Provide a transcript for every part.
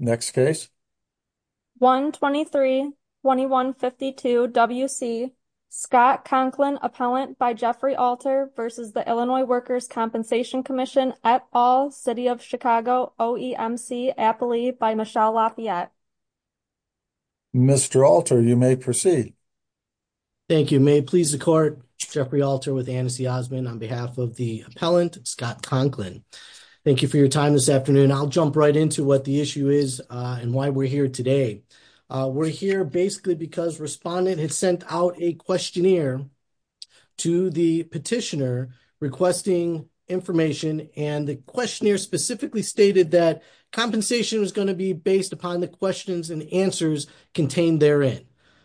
Next Case 123-2152 W.C. Scott Conklin Appellant by Jeffrey Alter v. Illinois Workers' Compensation Comm'n at All City of Chicago OEMC Appley by Michelle Lafayette Mr. Alter, you may proceed. Thank you. May it please the Court, Jeffrey Alter with Anne C. Osmond on behalf of the Appellant, Scott Conklin. Thank you for your time this afternoon. I'll jump right into what the issue is and why we're here today. We're here basically because Respondent had sent out a questionnaire to the petitioner requesting information, and the questionnaire specifically stated that compensation was going to be based upon the questions and answers contained therein,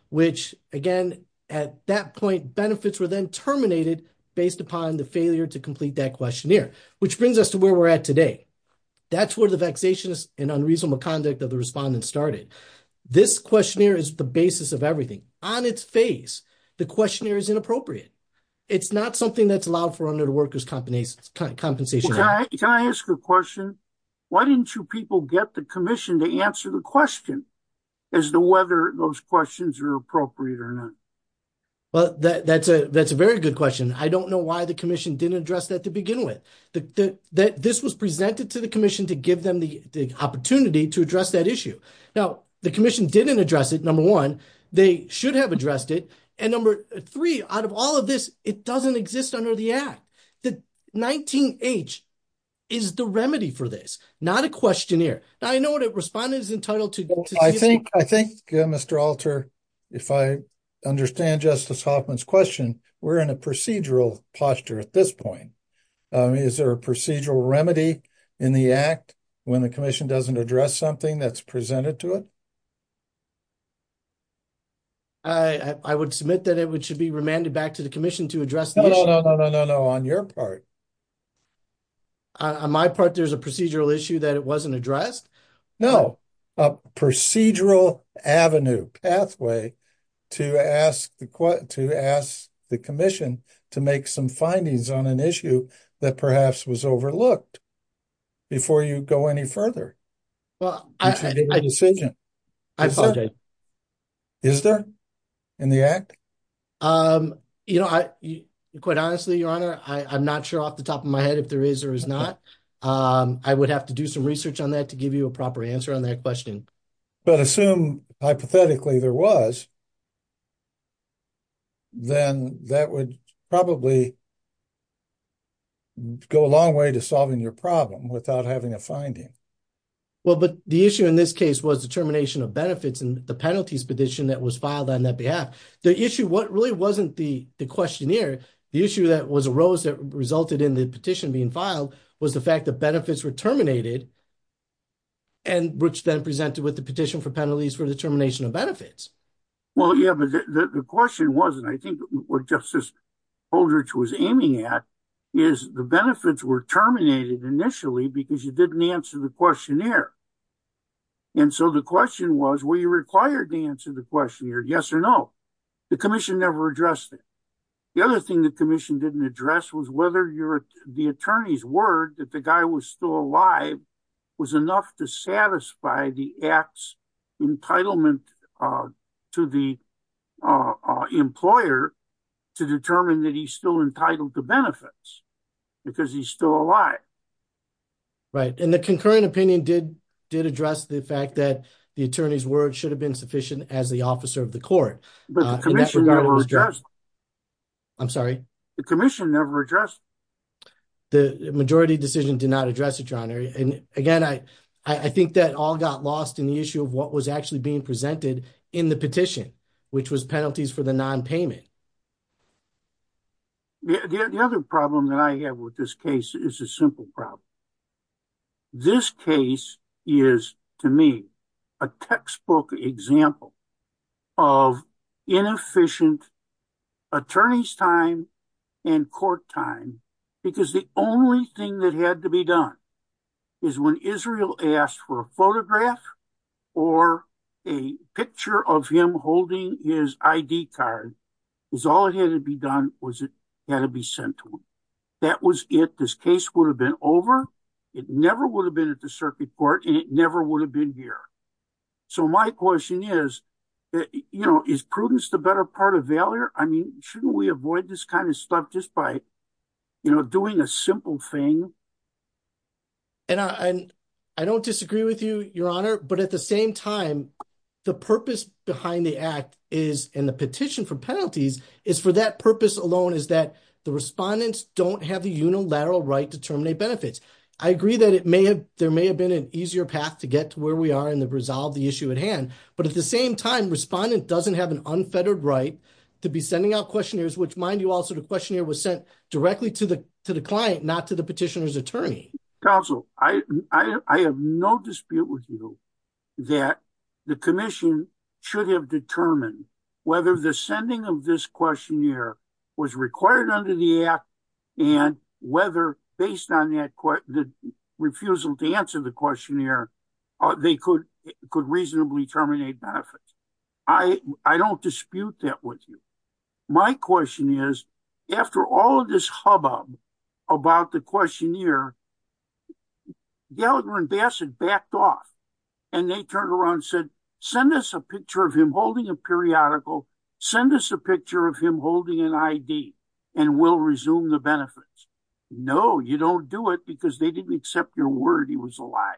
which, again, at that point, benefits were then terminated based upon the failure to complete that questionnaire, which brings us to where we're at today. That's where the vexation and unreasonable conduct of the Respondent started. This questionnaire is the basis of everything. On its face, the questionnaire is inappropriate. It's not something that's allowed for under the Workers' Compensation Act. Can I ask a question? Why didn't you people get the Commission to answer the question as to whether those questions are appropriate or not? Well, that's a very good question. I don't know why the Commission didn't address that to begin with. This was presented to the Commission to give them the opportunity to address that issue. Now, the Commission didn't address it, number one. They should have addressed it. And number three, out of all of this, it doesn't exist under the Act. The 19-H is the remedy for this, not a questionnaire. Now, I know that Respondent is entitled to- I think, Mr. Alter, if I understand Justice Hoffman's question, we're in a procedural posture at this point. Is there a procedural remedy in the Act when the Commission doesn't address something that's presented to it? I would submit that it should be remanded back to the Commission to address the issue. No, no, no, no, no, no, no. On your part. On my part, there's a procedural issue that it wasn't addressed? No. A procedural avenue, pathway, to ask the Commission to make some findings on an issue that perhaps was overlooked before you go any further, before you make a decision. I apologize. Is there in the Act? Quite honestly, Your Honor, I'm not sure off the top of my head if there is or is not. I would have to do some research on that to give you a proper answer on that question. But assume, hypothetically, there was, then that would probably go a long way to solving your problem without having a finding. Well, but the issue in this case was the termination of benefits and the penalties petition that was filed on that behalf. The issue, what really wasn't the questionnaire, the issue that was arose that resulted in the petition being filed was the fact that benefits were terminated and which then presented with the petition for penalties for the termination of Well, yeah, but the question wasn't. I think what Justice Aldrich was aiming at is the benefits were terminated initially because you didn't answer the questionnaire. And so the question was, were you required to answer the questionnaire, yes or no? The commission never addressed it. The other thing the commission didn't address was whether the attorney's word that the guy was still alive was enough to satisfy the Act's entitlement to the employer to determine that he's still entitled to benefits because he's still alive. Right. And the concurrent opinion did address the fact that the attorney's word should have been sufficient as the officer of the court. The commission never addressed it. I'm sorry? The commission never addressed it. The majority decision did not address it, John. And again, I think that all got lost in the issue of what was actually being presented in the petition, which was penalties for the nonpayment. The other problem that I have with this case is a simple problem. This case is, to me, a textbook example of inefficient attorney's time and court time, because the only thing that had to be done is when Israel asked for a photograph or a picture of him holding his ID card, is all it had to be done was it had to be sent to him. That was it. This case would have been over. It never would have been at the circuit court and it never would have been here. So my question is, you know, is prudence the better part of failure? I mean, shouldn't we avoid this kind of stuff just by, you know, doing a simple thing? And I don't disagree with you, Your Honor, but at the same time, the purpose behind the act is in the petition for penalties is for that purpose alone is that the respondents don't have the unilateral right to terminate benefits. I agree that it may have, may have been an easier path to get to where we are in the resolve the issue at hand, but at the same time, respondent doesn't have an unfettered right to be sending out questionnaires, which mind you, also the questionnaire was sent directly to the client, not to the petitioner's attorney. Counsel, I have no dispute with you that the commission should have determined whether the sending of this questionnaire was required under the act and whether based on that refusal to answer the questionnaire, they could reasonably terminate benefits. I don't dispute that with you. My question is, after all of this hubbub about the questionnaire, Gallagher and Bassett backed off and they turned around and said, send us a picture of him holding a periodical, send us a picture of him holding an ID and we'll resume the benefits. No, you don't do it because they didn't accept your word he was alive.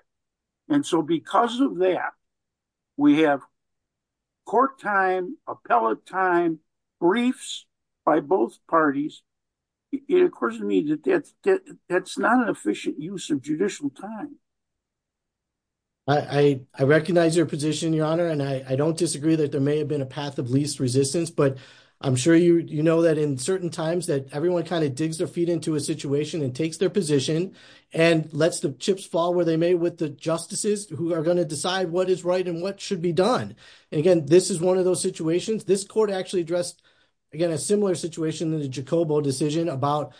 And so, because of that, we have court time, appellate time, briefs by both parties. It occurs to me that that's not an efficient use of judicial time. I recognize your position, your honor, and I don't disagree that there may have been a path of least resistance, but I'm sure you know that in certain times that kind of digs their feet into a situation and takes their position and lets the chips fall where they may with the justices who are going to decide what is right and what should be done. And again, this is one of those situations. This court actually addressed, again, a similar situation in the Jacobo decision about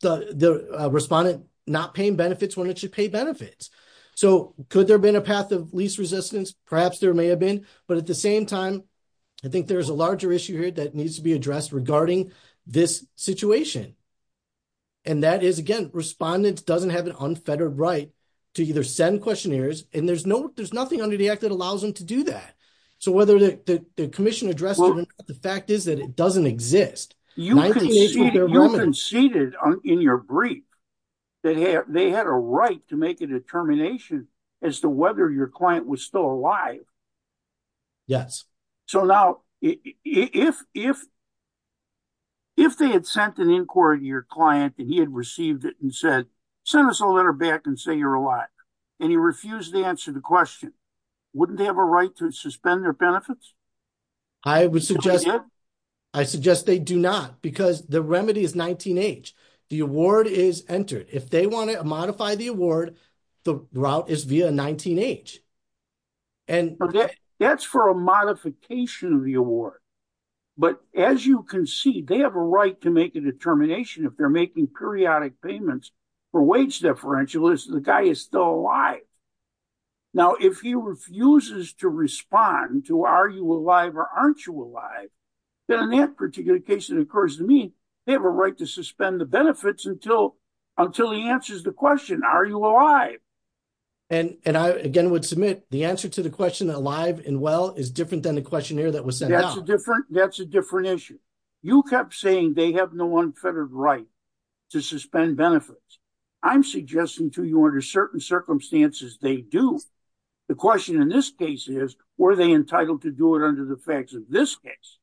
the respondent not paying benefits when it should pay benefits. So, could there have been a path of least resistance? Perhaps there may have been, but at the same time, I think there's a larger issue here that needs to be addressed regarding this situation. And that is, again, respondents doesn't have an unfettered right to either send questionnaires and there's nothing under the act that allows them to do that. So, whether the commission addressed it, the fact is that it doesn't exist. You conceded in your brief that they had a right to make a determination as to whether your client was still alive. Yes. So, now, if they had sent an inquiry to your client and he had received it and said, send us a letter back and say you're alive, and he refused to answer the question, wouldn't they have a right to suspend their benefits? I would suggest, I suggest they do not because the remedy is 19-H. The award is entered. If they want to modify the award, the route is via 19-H. That's for a modification of the award. But as you concede, they have a right to make a determination if they're making periodic payments for wage deferentials, the guy is still alive. Now, if he refuses to respond to are you alive or aren't you alive, then in that particular case, they have a right to suspend the benefits until he answers the question, are you alive? And I, again, would submit the answer to the question alive and well is different than the questionnaire that was sent out. That's a different issue. You kept saying they have no unfettered right to suspend benefits. I'm suggesting to you under certain circumstances they do. The question in this case is, were they entitled to do it under the facts of this case?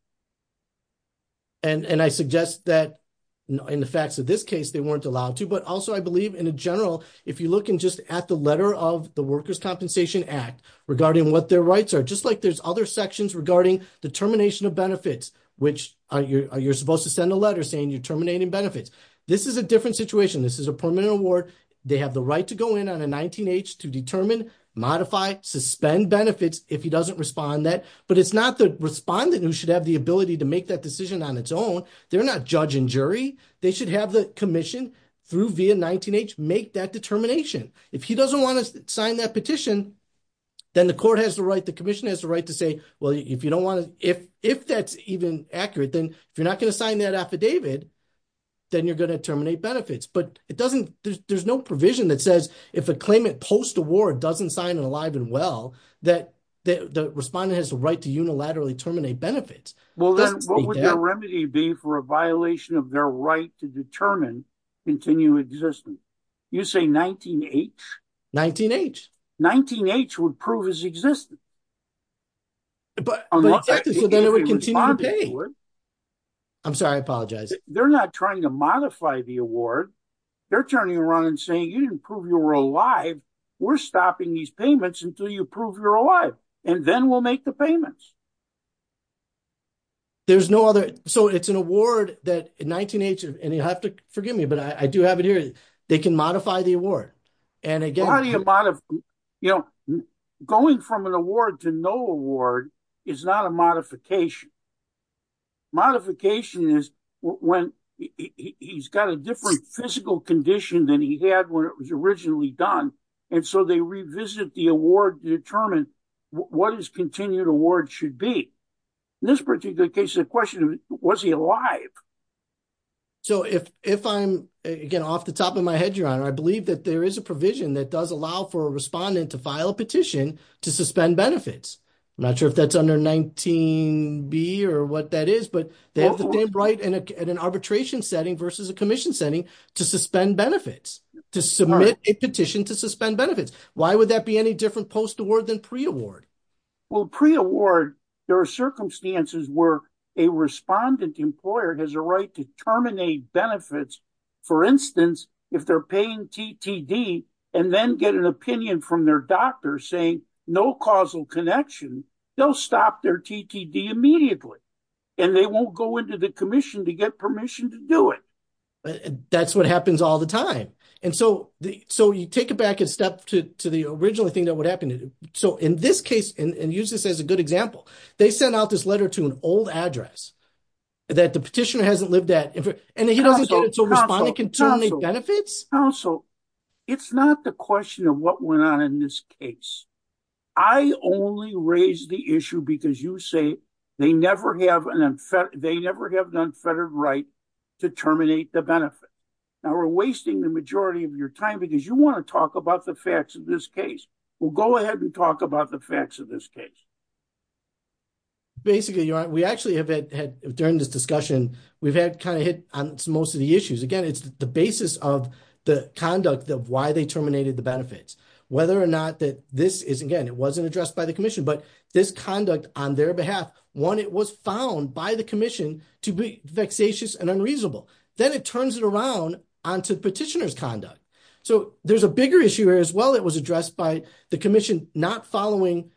And I suggest that in the facts of this case, they weren't allowed to. But also, I believe in a general, if you look in just at the letter of the Workers' Compensation Act regarding what their rights are, just like there's other sections regarding the termination of benefits, which you're supposed to send a letter saying you're terminating benefits. This is a different situation. This is a permanent award. They have the right to go in on a 19-H to determine, modify, suspend benefits if he doesn't respond to that. But it's not the respondent who should have the ability to make that decision on its own. They're not judge and jury. They should have the commission through via 19-H make that determination. If he doesn't want to sign that petition, then the court has the right, the commission has the right to say, well, if you don't want to, if that's even accurate, then if you're not going to sign that affidavit, then you're going to terminate benefits. But it doesn't, there's no provision that says if a claimant post-award doesn't sign it alive and well, that the respondent has the right to unilaterally terminate benefits. Well, then what would the remedy be for a violation of their right to determine continued existence? You say 19-H? 19-H. 19-H would prove his existence. But then it would continue to pay. I'm sorry, I apologize. They're not trying to modify the award. They're turning around and saying you didn't prove you were alive. We're stopping these payments until you prove you're alive and then we'll make the payments. There's no other, so it's an award that 19-H, and you have to forgive me, but I do have it here. They can modify the award. And again, how do you modify, you know, going from an award to no award is not a modification. Modification is when he's got a different physical condition than he had when it was originally done. And so they revisit the award to determine what his continued award should be. In this particular case, the question was, was he alive? So if I'm, again, off the top of my head, Your Honor, I believe that there is a provision that does allow for a respondent to file a petition to suspend benefits. I'm not sure if that's under 19-B or what that is, but they have the same right in an arbitration setting versus a commission setting to suspend benefits, to submit a petition to suspend benefits. Why would that be any different post-award than pre-award? Well, pre-award, there are circumstances where a respondent employer has a right to terminate no causal connection, they'll stop their TTD immediately, and they won't go into the commission to get permission to do it. That's what happens all the time. And so you take it back a step to the original thing that would happen. So in this case, and use this as a good example, they sent out this letter to an old address that the petitioner hasn't lived at, and he doesn't get it, so respondent can terminate benefits? Counsel, it's not the question of what went on in this case. I only raise the issue because you say they never have an unfettered right to terminate the benefit. Now, we're wasting the majority of your time because you want to talk about the facts of this case. Well, go ahead and talk about the facts of this case. Basically, Your Honor, we actually have had, during this discussion, we've had kind of hit on most of the issues. Again, it's the basis of the conduct of why they terminated the benefits. Whether or not that this is, again, it wasn't addressed by the commission, but this conduct on their behalf, one, it was found by the commission to be vexatious and unreasonable. Then it turns it around onto the petitioner's conduct. So there's a bigger issue here as well that was addressed by the commission not following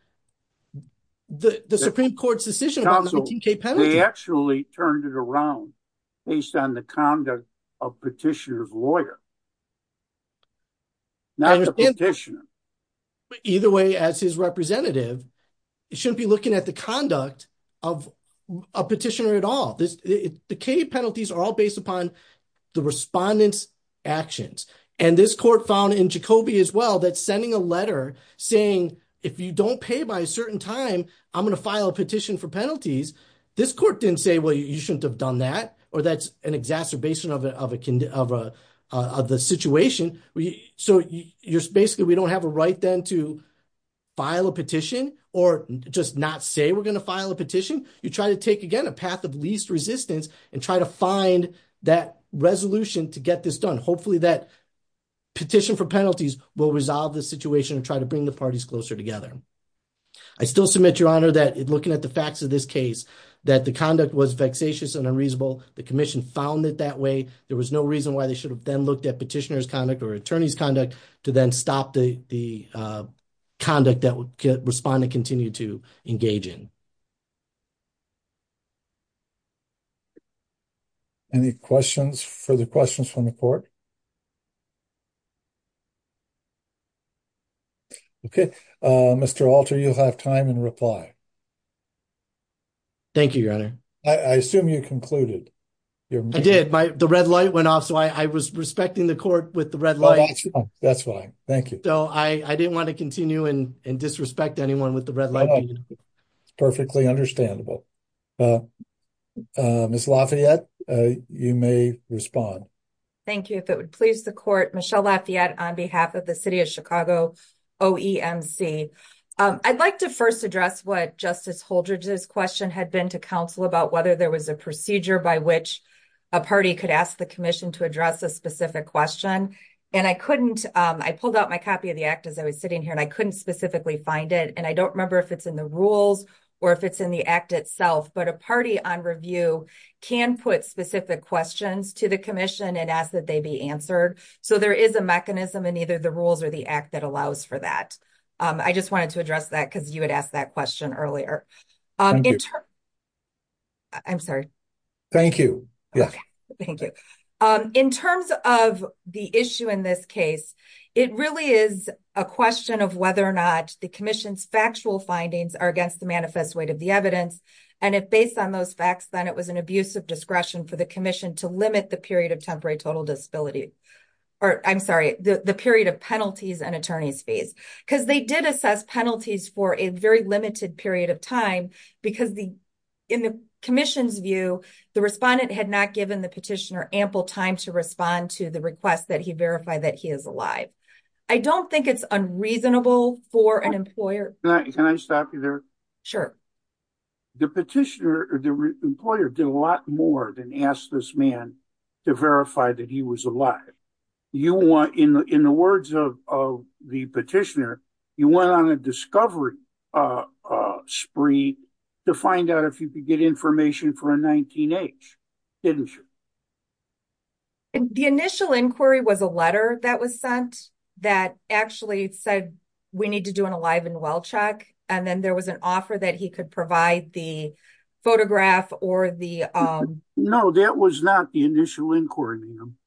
the Supreme Court's decision about 19k penalty. Counsel, they actually turned it around based on the conduct of petitioner's lawyer. Not the petitioner. But either way, as his representative, you shouldn't be looking at the conduct of a petitioner at all. The K penalties are all based upon the respondent's actions. And this court found in Jacobi as well that sending a letter saying, if you don't pay by a certain time, I'm going to file a petition for penalties, this court didn't say, well, you shouldn't have done that, or that's an exacerbation of a situation. So basically, we don't have a right then to file a petition or just not say we're going to file a petition. You try to take, again, a path of least resistance and try to find that resolution to get this done. Hopefully that petition for penalties will resolve the situation and try to bring the parties closer together. I still submit, Your Honor, that looking at the facts of this case, that the conduct was vexatious and unreasonable. The commission found it that way. There was no reason why they should have then looked at petitioner's conduct or attorney's conduct to then stop the conduct that respondent continued to engage in. Any questions, further questions from the court? Okay. Mr. Alter, you'll have time and reply. Thank you, Your Honor. I assume you concluded. I did. The red light went off, so I was respecting the court with the red light. That's fine. Thank you. So I didn't want to continue and disrespect anyone with the red light. It's perfectly understandable. Ms. Lafayette, you may respond. Thank you. If it would please the court, Michelle Lafayette on behalf of the City of Chicago, OEMC. I'd like to first address what Justice Holdred's question had been to about whether there was a procedure by which a party could ask the commission to address a specific question. And I pulled out my copy of the act as I was sitting here, and I couldn't specifically find it. And I don't remember if it's in the rules or if it's in the act itself, but a party on review can put specific questions to the commission and ask that they be answered. So there is a mechanism in either the rules or the act that allows for that. I just wanted to address that because you had asked that question earlier. I'm sorry. Thank you. In terms of the issue in this case, it really is a question of whether or not the commission's factual findings are against the manifest weight of the evidence. And if based on those facts, then it was an abuse of discretion for the commission to limit the period of temporary total disability, or I'm sorry, the period of penalties and attorney's fees. Because they did assess penalties for a very limited period of time because in the commission's view, the respondent had not given the petitioner ample time to respond to the request that he verify that he is alive. I don't think it's unreasonable for an employer. Can I stop you there? Sure. The petitioner or the employer did a lot more than ask this man to verify that he was alive. In the words of the petitioner, you went on a discovery spree to find out if you could get information for a 19-H, didn't you? The initial inquiry was a letter that was sent that actually said, we need to do an alive and well check. And then there was an offer that he could provide the photograph or the- No, that was not the initial inquiry, ma'am.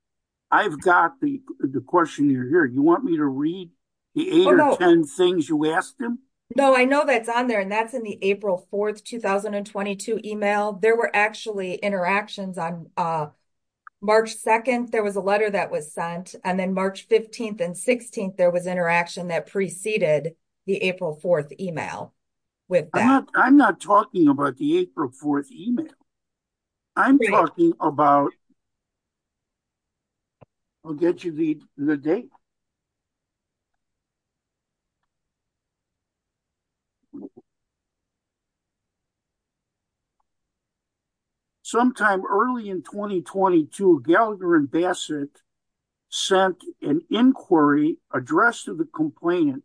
I've got the question here. You want me to read the eight or 10 things you asked him? No, I know that's on there and that's in the April 4th, 2022 email. There were actually interactions on March 2nd, there was a letter that was sent. And then March 15th and 16th, there was interaction that preceded the April 4th email with that. I'm not talking about the April 4th email. I'm talking about... I'll get you the date. Sometime early in 2022, Gallagher and Bassett sent an inquiry addressed to the complainant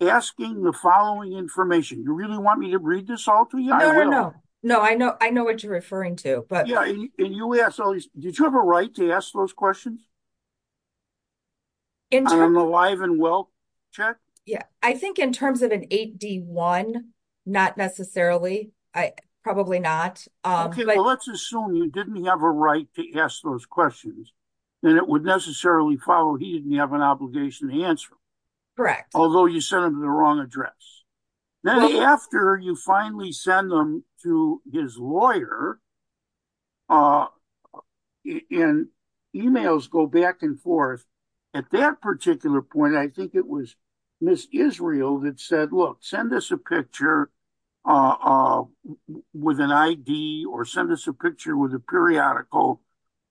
asking the following information. You really want me to read this all to you? No, no, no. No, I know what you're referring to, but- Yeah, and you asked all these... Did you have a right to ask those questions? An alive and well check? Yeah, I think in terms of an 8D1, not necessarily, probably not. Okay, well, let's assume you didn't have a right to ask those questions, then it would necessarily follow he didn't have an obligation to answer. Correct. Although you sent them to the wrong address. Then after you finally send them to his lawyer and emails go back and forth, at that particular point, I think it was Ms. Israel that said, look, send us a picture with an ID or send us a picture with a periodical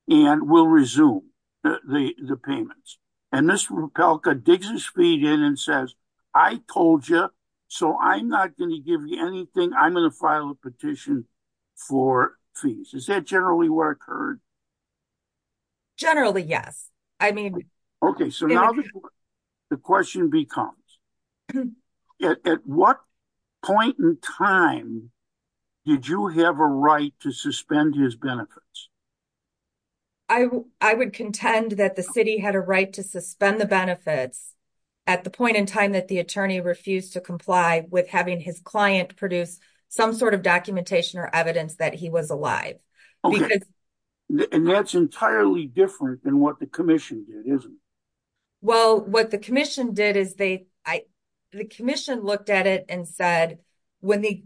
and we'll resume the payments. And Ms. Rapelka digs his feet in and says, I told you, so I'm not going to give you anything. I'm going to file a petition for fees. Is that generally what occurred? Generally, yes. I mean- Okay, so now the question becomes, at what point in time did you have a right to suspend his benefits? I would contend that the city had a right to suspend the benefits at the point in time that the attorney refused to comply with having his client produce some sort of documentation or evidence that he was alive. Okay, and that's entirely different than what the commission did, isn't it? Well, what the commission did is they, the commission looked at it and said, when the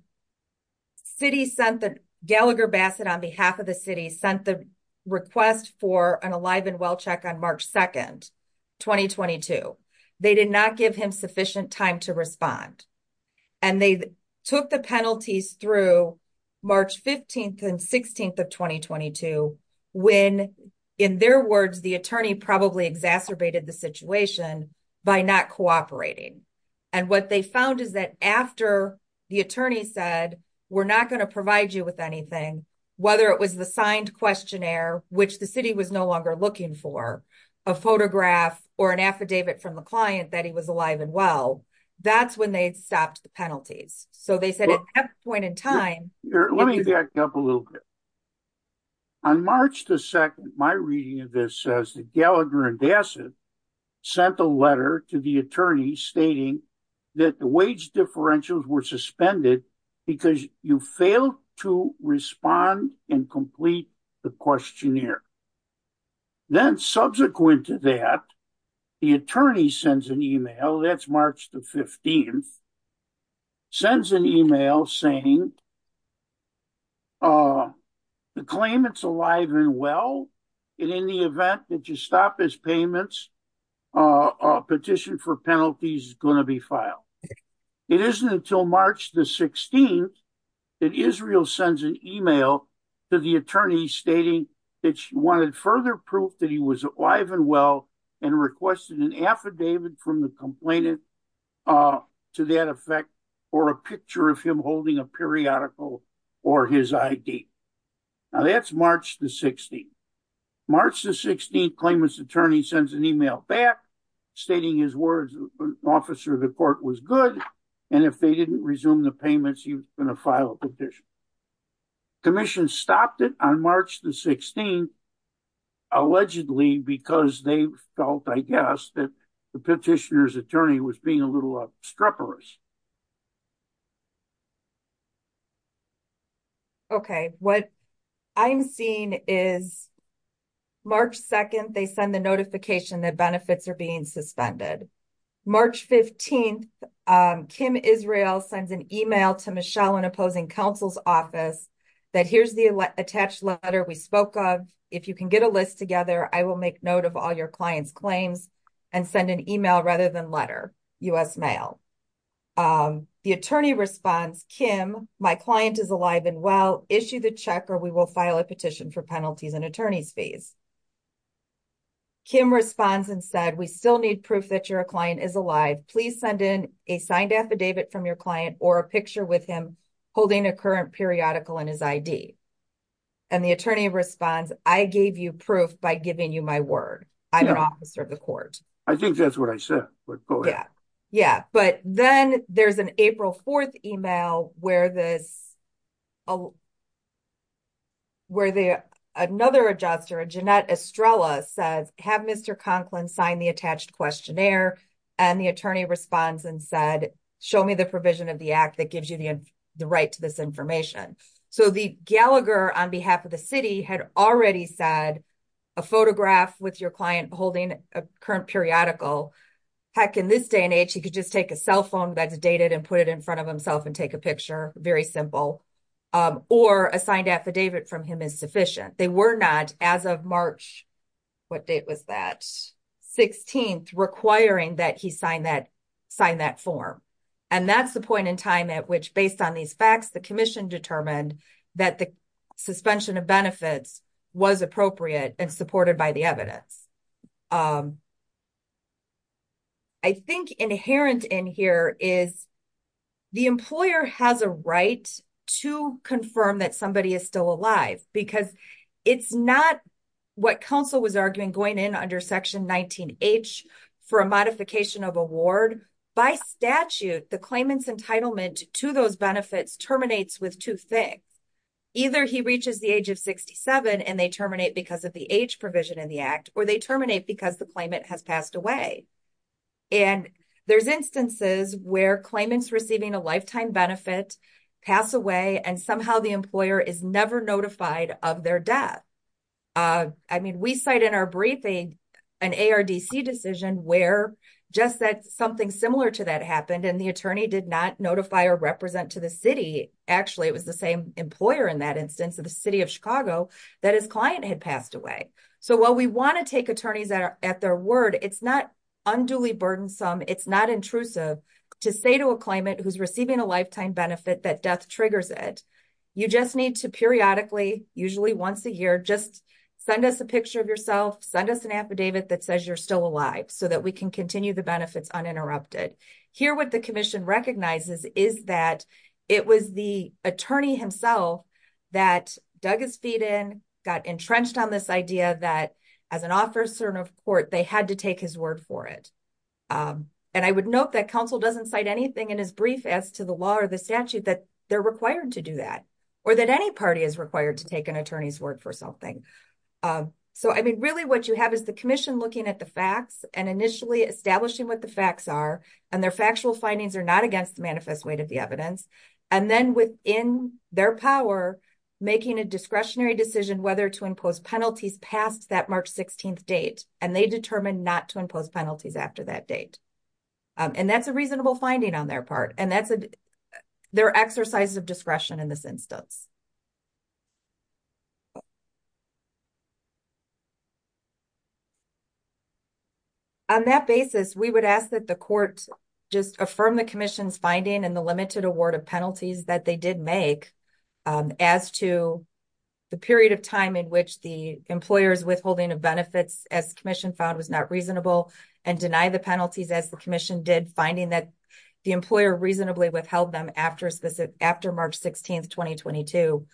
city sent the, Gallagher Bassett on behalf of the city sent the request for an alive and well check on March 2nd, 2022, they did not give him sufficient time to respond. And they took the penalties through March 15th and 16th of 2022 when, in their words, the attorney probably exacerbated the situation by not cooperating. And what they found is that after the attorney said, we're not going to provide you with anything, whether it was the signed questionnaire, which the city was no longer looking for, a photograph or an affidavit from the client that he was alive and well, that's when they stopped the penalties. So they said at that point in time- Let me back up a little bit. On March 2nd, my reading of this says that Gallagher Bassett sent a letter to the attorney stating that the wage differentials were suspended because you failed to respond and complete the questionnaire. Then subsequent to that, the attorney sends an email, that's March the 15th, sends an email saying, in the event that you stop his payments, a petition for penalties is going to be filed. It isn't until March the 16th that Israel sends an email to the attorney stating that she wanted further proof that he was alive and well and requested an affidavit from the complainant to that effect, or a picture of him holding a periodical or his ID. Now that's March the 16th. March the 16th, the claimant's attorney sends an email back stating his words, officer of the court was good, and if they didn't resume the payments, he was going to file a petition. Commission stopped it on March the 16th, allegedly because they felt, I guess, the petitioner's attorney was being a little obstreperous. Okay, what I'm seeing is March 2nd, they send the notification that benefits are being suspended. March 15th, Kim Israel sends an email to Michelle in opposing counsel's office that here's the attached letter we spoke of, if you can get a list together, I will make note of all your client's claims and send an email rather than letter, U.S. mail. The attorney responds, Kim, my client is alive and well, issue the check or we will file a petition for penalties and attorney's fees. Kim responds and said, we still need proof that your client is alive, please send in a signed affidavit from your client or a picture with him holding a current periodical and his ID. And the attorney responds, I gave you proof by giving you my word. I'm an officer of the court. I think that's what I said. But yeah, but then there's an April 4th email where another adjuster, Jeanette Estrella says, have Mr. Conklin sign the attached questionnaire and the attorney responds and said, show me the provision of the act that gives you the right to this information. So the Gallagher on behalf of the city had already said a photograph with your client holding a current periodical, heck in this day and age, he could just take a cell phone that's dated and put it in front of himself and take a picture, very simple, or a signed affidavit from him is sufficient. They were not as of March, what date was that? 16th requiring that he sign that form. And that's the point in time at which based on these facts, the commission determined that the suspension of benefits was appropriate and supported by the evidence. I think inherent in here is the employer has a right to confirm that somebody is still alive because it's not what counsel was arguing going in under section 19H for a modification of award by statute, the claimant's entitlement to those benefits terminates with two things. Either he reaches the age of 67 and they terminate because of the age provision in the act, or they terminate because the claimant has passed away. And there's instances where claimants receiving a lifetime benefit pass away and somehow the employer is never notified of their death. I mean, we cite in our briefing, an ARDC decision where just that something similar to that happened. And the attorney did not notify or represent to the city. Actually, it was the same employer in that instance of the city of Chicago that his client had passed away. So while we want to take attorneys at their word, it's not unduly burdensome. It's not intrusive to say to a claimant who's receiving a lifetime benefit that death triggers it. You just need to periodically, usually once a year, just send us a picture of yourself, send us an affidavit that says you're still alive so that we can continue the benefits uninterrupted. Here, what the commission recognizes is that it was the attorney himself that dug his feet in, got entrenched on this idea that as an officer of court, they had to take his word for it. And I would note that counsel doesn't cite anything in his brief as to the law or the statute that they're required to do that, or that any party is required to take an attorney's word for something. So I mean, really what you have is the commission looking at the facts and initially establishing what the facts are, and their factual findings are not against the manifest weight of the evidence. And then within their power, making a discretionary decision whether to impose penalties past that March 16th date, and they determined not to impose penalties after that date. And that's a reasonable finding on their part. And that's their exercises of discretion in this instance. On that basis, we would ask that the court just affirm the commission's finding and the limited award of penalties that they did make as to the period of time in which the employer's withholding of benefits, as the commission found was not reasonable, and deny the penalties as the commission did, finding that the employer reasonably withheld them after March 16th, 2022,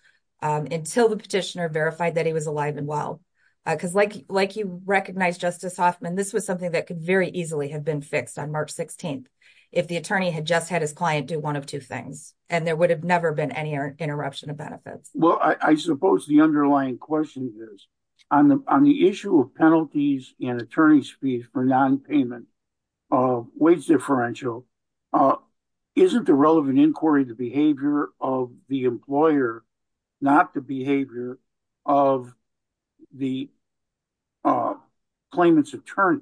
until the petitioner verified that he was alive and well. Because like you recognize, Justice Hoffman, this was something that could very easily have been fixed on March 16th, if the attorney had just had his client do one of two things, and there would have never been any interruption of benefits. Well, I suppose the underlying question is, on the issue of penalties and attorney's fees for non-payment of wage differential, isn't the relevant inquiry the behavior of the employer, not the behavior of the claimant's attorney?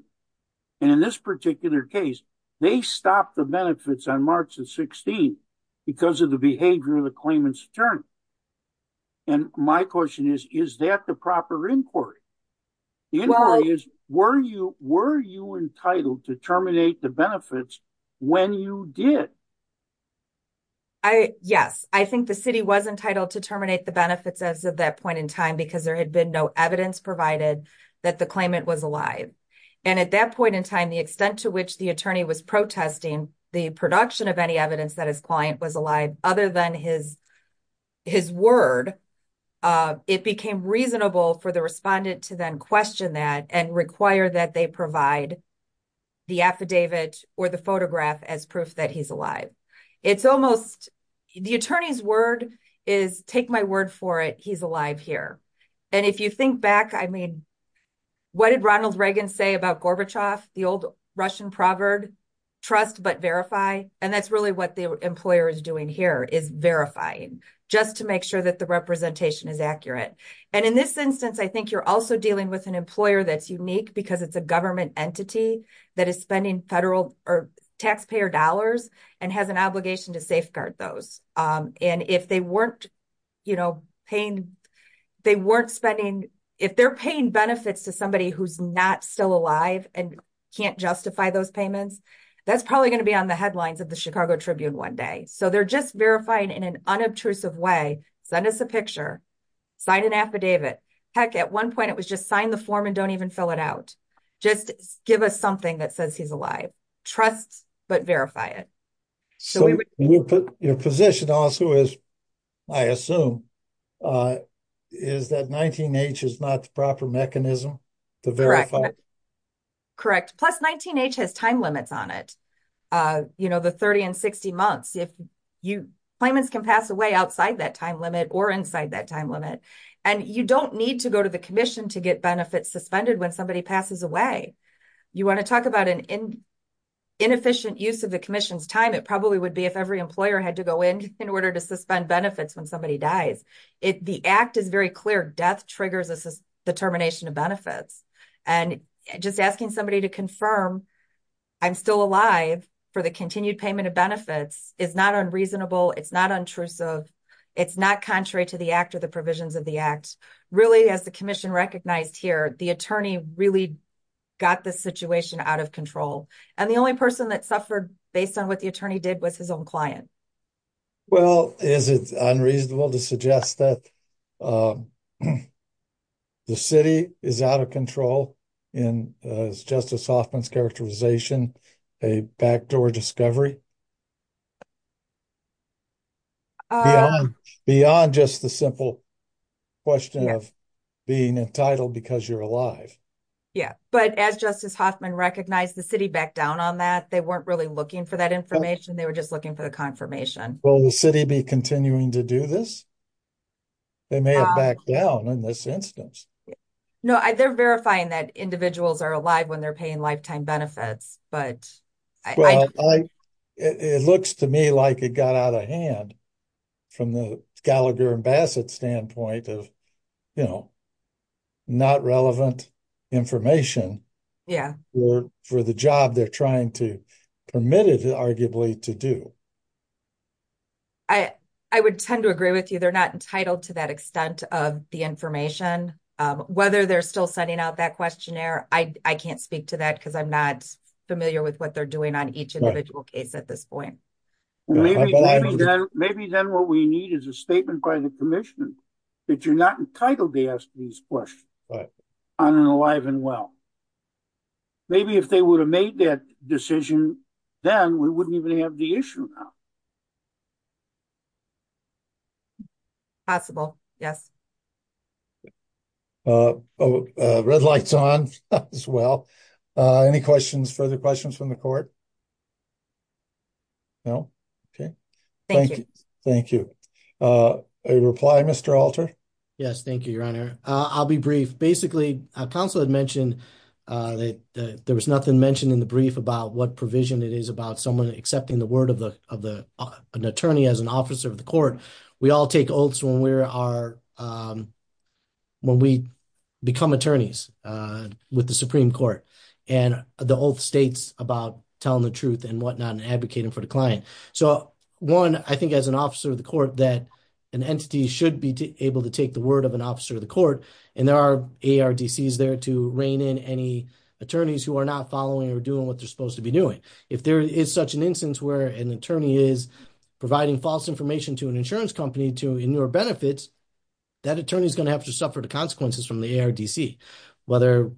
And in this particular case, they stopped the benefits on March 16th because of the behavior of the claimant's attorney. And my question is, is that proper inquiry? The inquiry is, were you entitled to terminate the benefits when you did? Yes, I think the city was entitled to terminate the benefits as of that point in time because there had been no evidence provided that the claimant was alive. And at that point in time, the extent to which the attorney was protesting the production of any evidence that his client was alive, other than his word, it became reasonable for the respondent to then question that and require that they provide the affidavit or the photograph as proof that he's alive. The attorney's word is, take my word for it, he's alive here. And if you think back, I mean, what did Ronald Reagan say about Gorbachev, the old Russian proverb, trust but verify? And that's what the employer is doing here, is verifying, just to make sure that the representation is accurate. And in this instance, I think you're also dealing with an employer that's unique because it's a government entity that is spending federal or taxpayer dollars and has an obligation to safeguard those. And if they weren't paying, they weren't spending, if they're paying benefits to somebody who's not still alive and can't justify those payments, that's probably going to be on the headlines of the Chicago Tribune one day. So they're just verifying in an unobtrusive way, send us a picture, sign an affidavit. Heck, at one point, it was just sign the form and don't even fill it out. Just give us something that says he's alive. Trust, but verify it. So your position also is, I assume, is that 19-H is not the proper mechanism to verify? Correct. Plus, 19-H has time limits on it. You know, the 30 and 60 months, if you, claimants can pass away outside that time limit or inside that time limit. And you don't need to go to the commission to get benefits suspended when somebody passes away. You want to talk about an inefficient use of the commission's time, it probably would be if every employer had to go in in order to suspend benefits when somebody dies. If the act is very clear, death triggers a determination of benefits. And just asking somebody to confirm I'm still alive for the continued payment of benefits is not unreasonable. It's not intrusive. It's not contrary to the act or the provisions of the act. Really, as the commission recognized here, the attorney really got this situation out of control. And the only person that suffered based on what the attorney did was his own client. Well, is it unreasonable to suggest that the city is out of control in, as Justice Hoffman's characterization, a backdoor discovery? Beyond just the simple question of being entitled because you're alive. Yeah, but as Justice Hoffman recognized, the city backed down on that. They weren't really looking for that information. They were just looking for the confirmation. Will the city be continuing to do this? They may have backed down in this instance. No, they're verifying that individuals are alive when they're paying lifetime benefits. But it looks to me like it got out of hand from the Gallagher and Bassett standpoint of, you know, not relevant information for the job they're trying to permit it, arguably, to do. I would tend to agree with you. They're not entitled to that extent of the information. Whether they're still sending out that questionnaire, I can't speak to that because I'm not familiar with what they're doing on each individual case at this point. Maybe then what we need is a statement by the commission that you're not entitled to ask these questions on an alive and well. Maybe if they would have made that decision, then we wouldn't even have the issue now. Possible, yes. Red light's on as well. Any questions, further questions from the court? No? Okay. Thank you. Thank you. A reply, Mr. Alter? Yes, thank you, Your Honor. I'll be brief. Basically, counsel had mentioned that there was nothing mentioned in the brief about what provision it is about someone accepting the word of an attorney as an officer of the court. We all take oaths when we become attorneys with the Supreme Court, and the oath states about telling the truth and what not and advocating for the client. So, one, I think as an officer of the court that an entity should be able to take the word of an officer of the court, and there are ARDCs there to rein in any attorneys who are not following or doing what they're supposed to be doing. If there is such an instance where an attorney is providing false information to an insurance company to in your benefits, that attorney is going to have to suffer the consequences from the ARDC, whether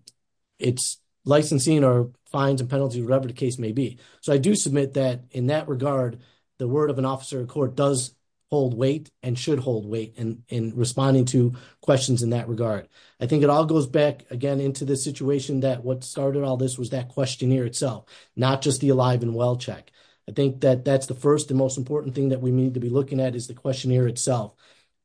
it's licensing or fines and penalties, whatever the case may be. So, I do submit that in that regard, the word of an officer of court does hold weight and should hold weight in responding to questions in that regard. I think it all goes back again into the situation that what started all this was that questionnaire itself, not just the Alive and Well check. I think that that's the first and most important thing that we need to be looking at is the questionnaire itself.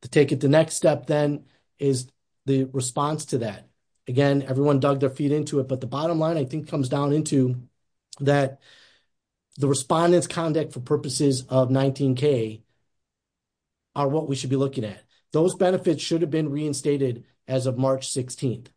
To take it the next step then is the response to that. Again, everyone dug their feet into it, but the bottom line I think comes down into that the respondent's conduct for purposes of 19K are what we should be looking at. Those benefits should have been reinstated as of March 16th.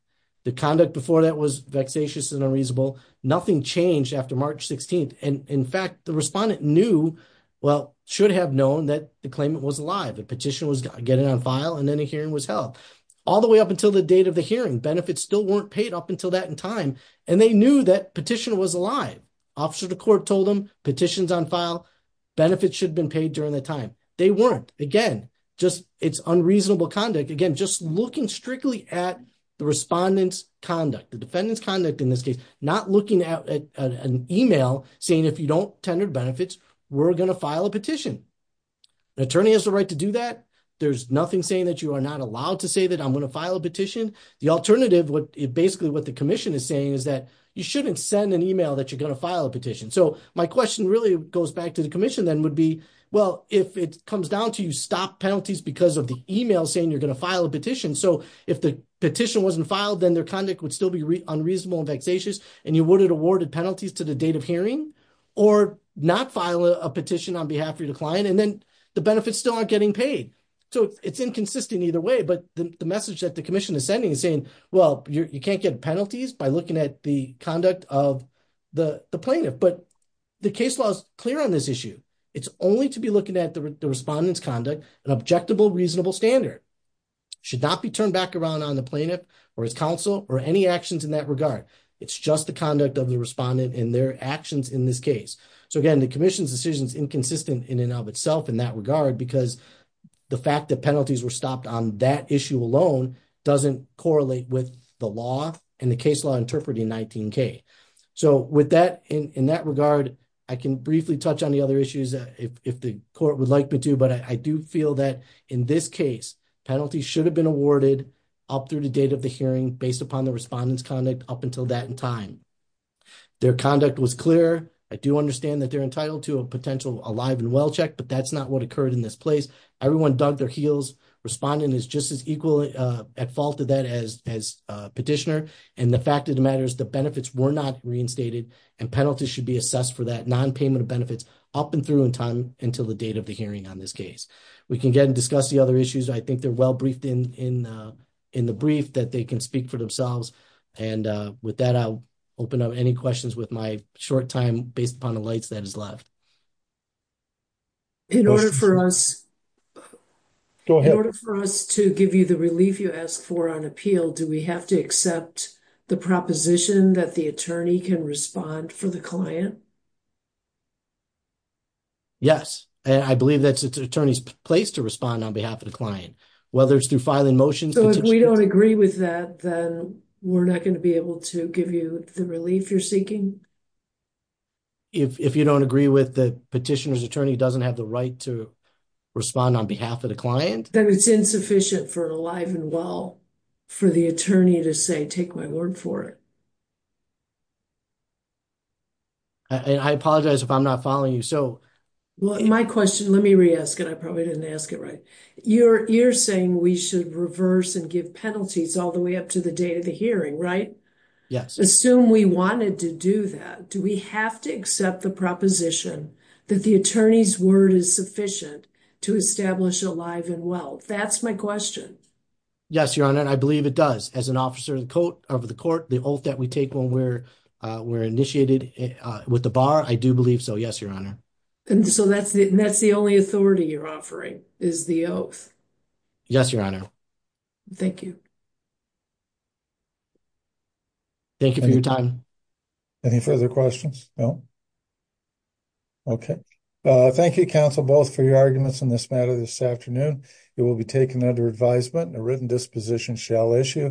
The conduct before that was vexatious and unreasonable. Nothing changed after March 16th. In fact, the respondent knew, well, should have known that the claimant was alive, the petition was getting on file, and then a hearing was held. All the way up until the date of the hearing, benefits still weren't paid up until that in time, and they knew that petition was alive. Officer of the court told them, petition's on file, benefits should have been at the respondent's conduct, the defendant's conduct in this case, not looking at an email saying if you don't tender benefits, we're going to file a petition. The attorney has the right to do that. There's nothing saying that you are not allowed to say that I'm going to file a petition. The alternative, basically what the commission is saying is that you shouldn't send an email that you're going to file a petition. My question really goes back to the commission then would be, well, if it comes down to you stop penalties because of the email saying you're going to if the petition wasn't filed, then their conduct would still be unreasonable and vexatious, and you would have awarded penalties to the date of hearing or not file a petition on behalf of your client, and then the benefits still aren't getting paid. It's inconsistent either way, but the message that the commission is sending is saying, well, you can't get penalties by looking at the conduct of the plaintiff, but the case law is clear on this issue. It's only to be looking at the respondent's conduct, an objectable reasonable standard should not be turned back around on the plaintiff or his counsel or any actions in that regard. It's just the conduct of the respondent and their actions in this case. So again, the commission's decision is inconsistent in and of itself in that regard because the fact that penalties were stopped on that issue alone doesn't correlate with the law and the case law interpreting 19k. So with that in that regard, I can briefly touch on the other issues if the court would like me to, but I do feel that in this case penalties should have been awarded up through the date of the hearing based upon the respondent's conduct up until that time. Their conduct was clear. I do understand that they're entitled to a potential alive and well check, but that's not what occurred in this place. Everyone dug their heels. Respondent is just as equal at fault of that as petitioner, and the fact of the matter is the benefits were not reinstated and penalties should be assessed for that non-payment of benefits up and through in time until the date of the hearing on this case. We can get and discuss the other issues. I think they're well briefed in the brief that they can speak for themselves, and with that I'll open up any questions with my short time based upon the lights that is left. In order for us to give you the relief you asked for on appeal, do we have to accept the proposition that the attorney can respond for the client? Yes, and I believe that's the attorney's place to respond on behalf of the client, whether it's through filing motions. So if we don't agree with that then we're not going to be able to give you the relief you're seeking? If you don't agree with the petitioner's attorney doesn't have the right to respond on behalf of the client? Then it's insufficient for an alive and well for the attorney to say take my word for it. I apologize if I'm not following you. My question, let me re-ask it. I probably didn't ask it right. You're saying we should reverse and give penalties all the way up to the date of the hearing, right? Yes. Assume we wanted to do that. Do we have to accept the proposition that the attorney's word is sufficient to establish alive and well? That's my question. Yes, your honor. I believe it does. As an officer of the court, the oath that we take when we're initiated with the bar, I do believe so. Yes, your honor. So that's the only authority you're offering is the oath? Yes, your honor. Thank you. Thank you for your time. Any further questions? No. Okay. Thank you, counsel, both for your arguments on this matter this afternoon. It will be taken under advisement and a written disposition shall issue.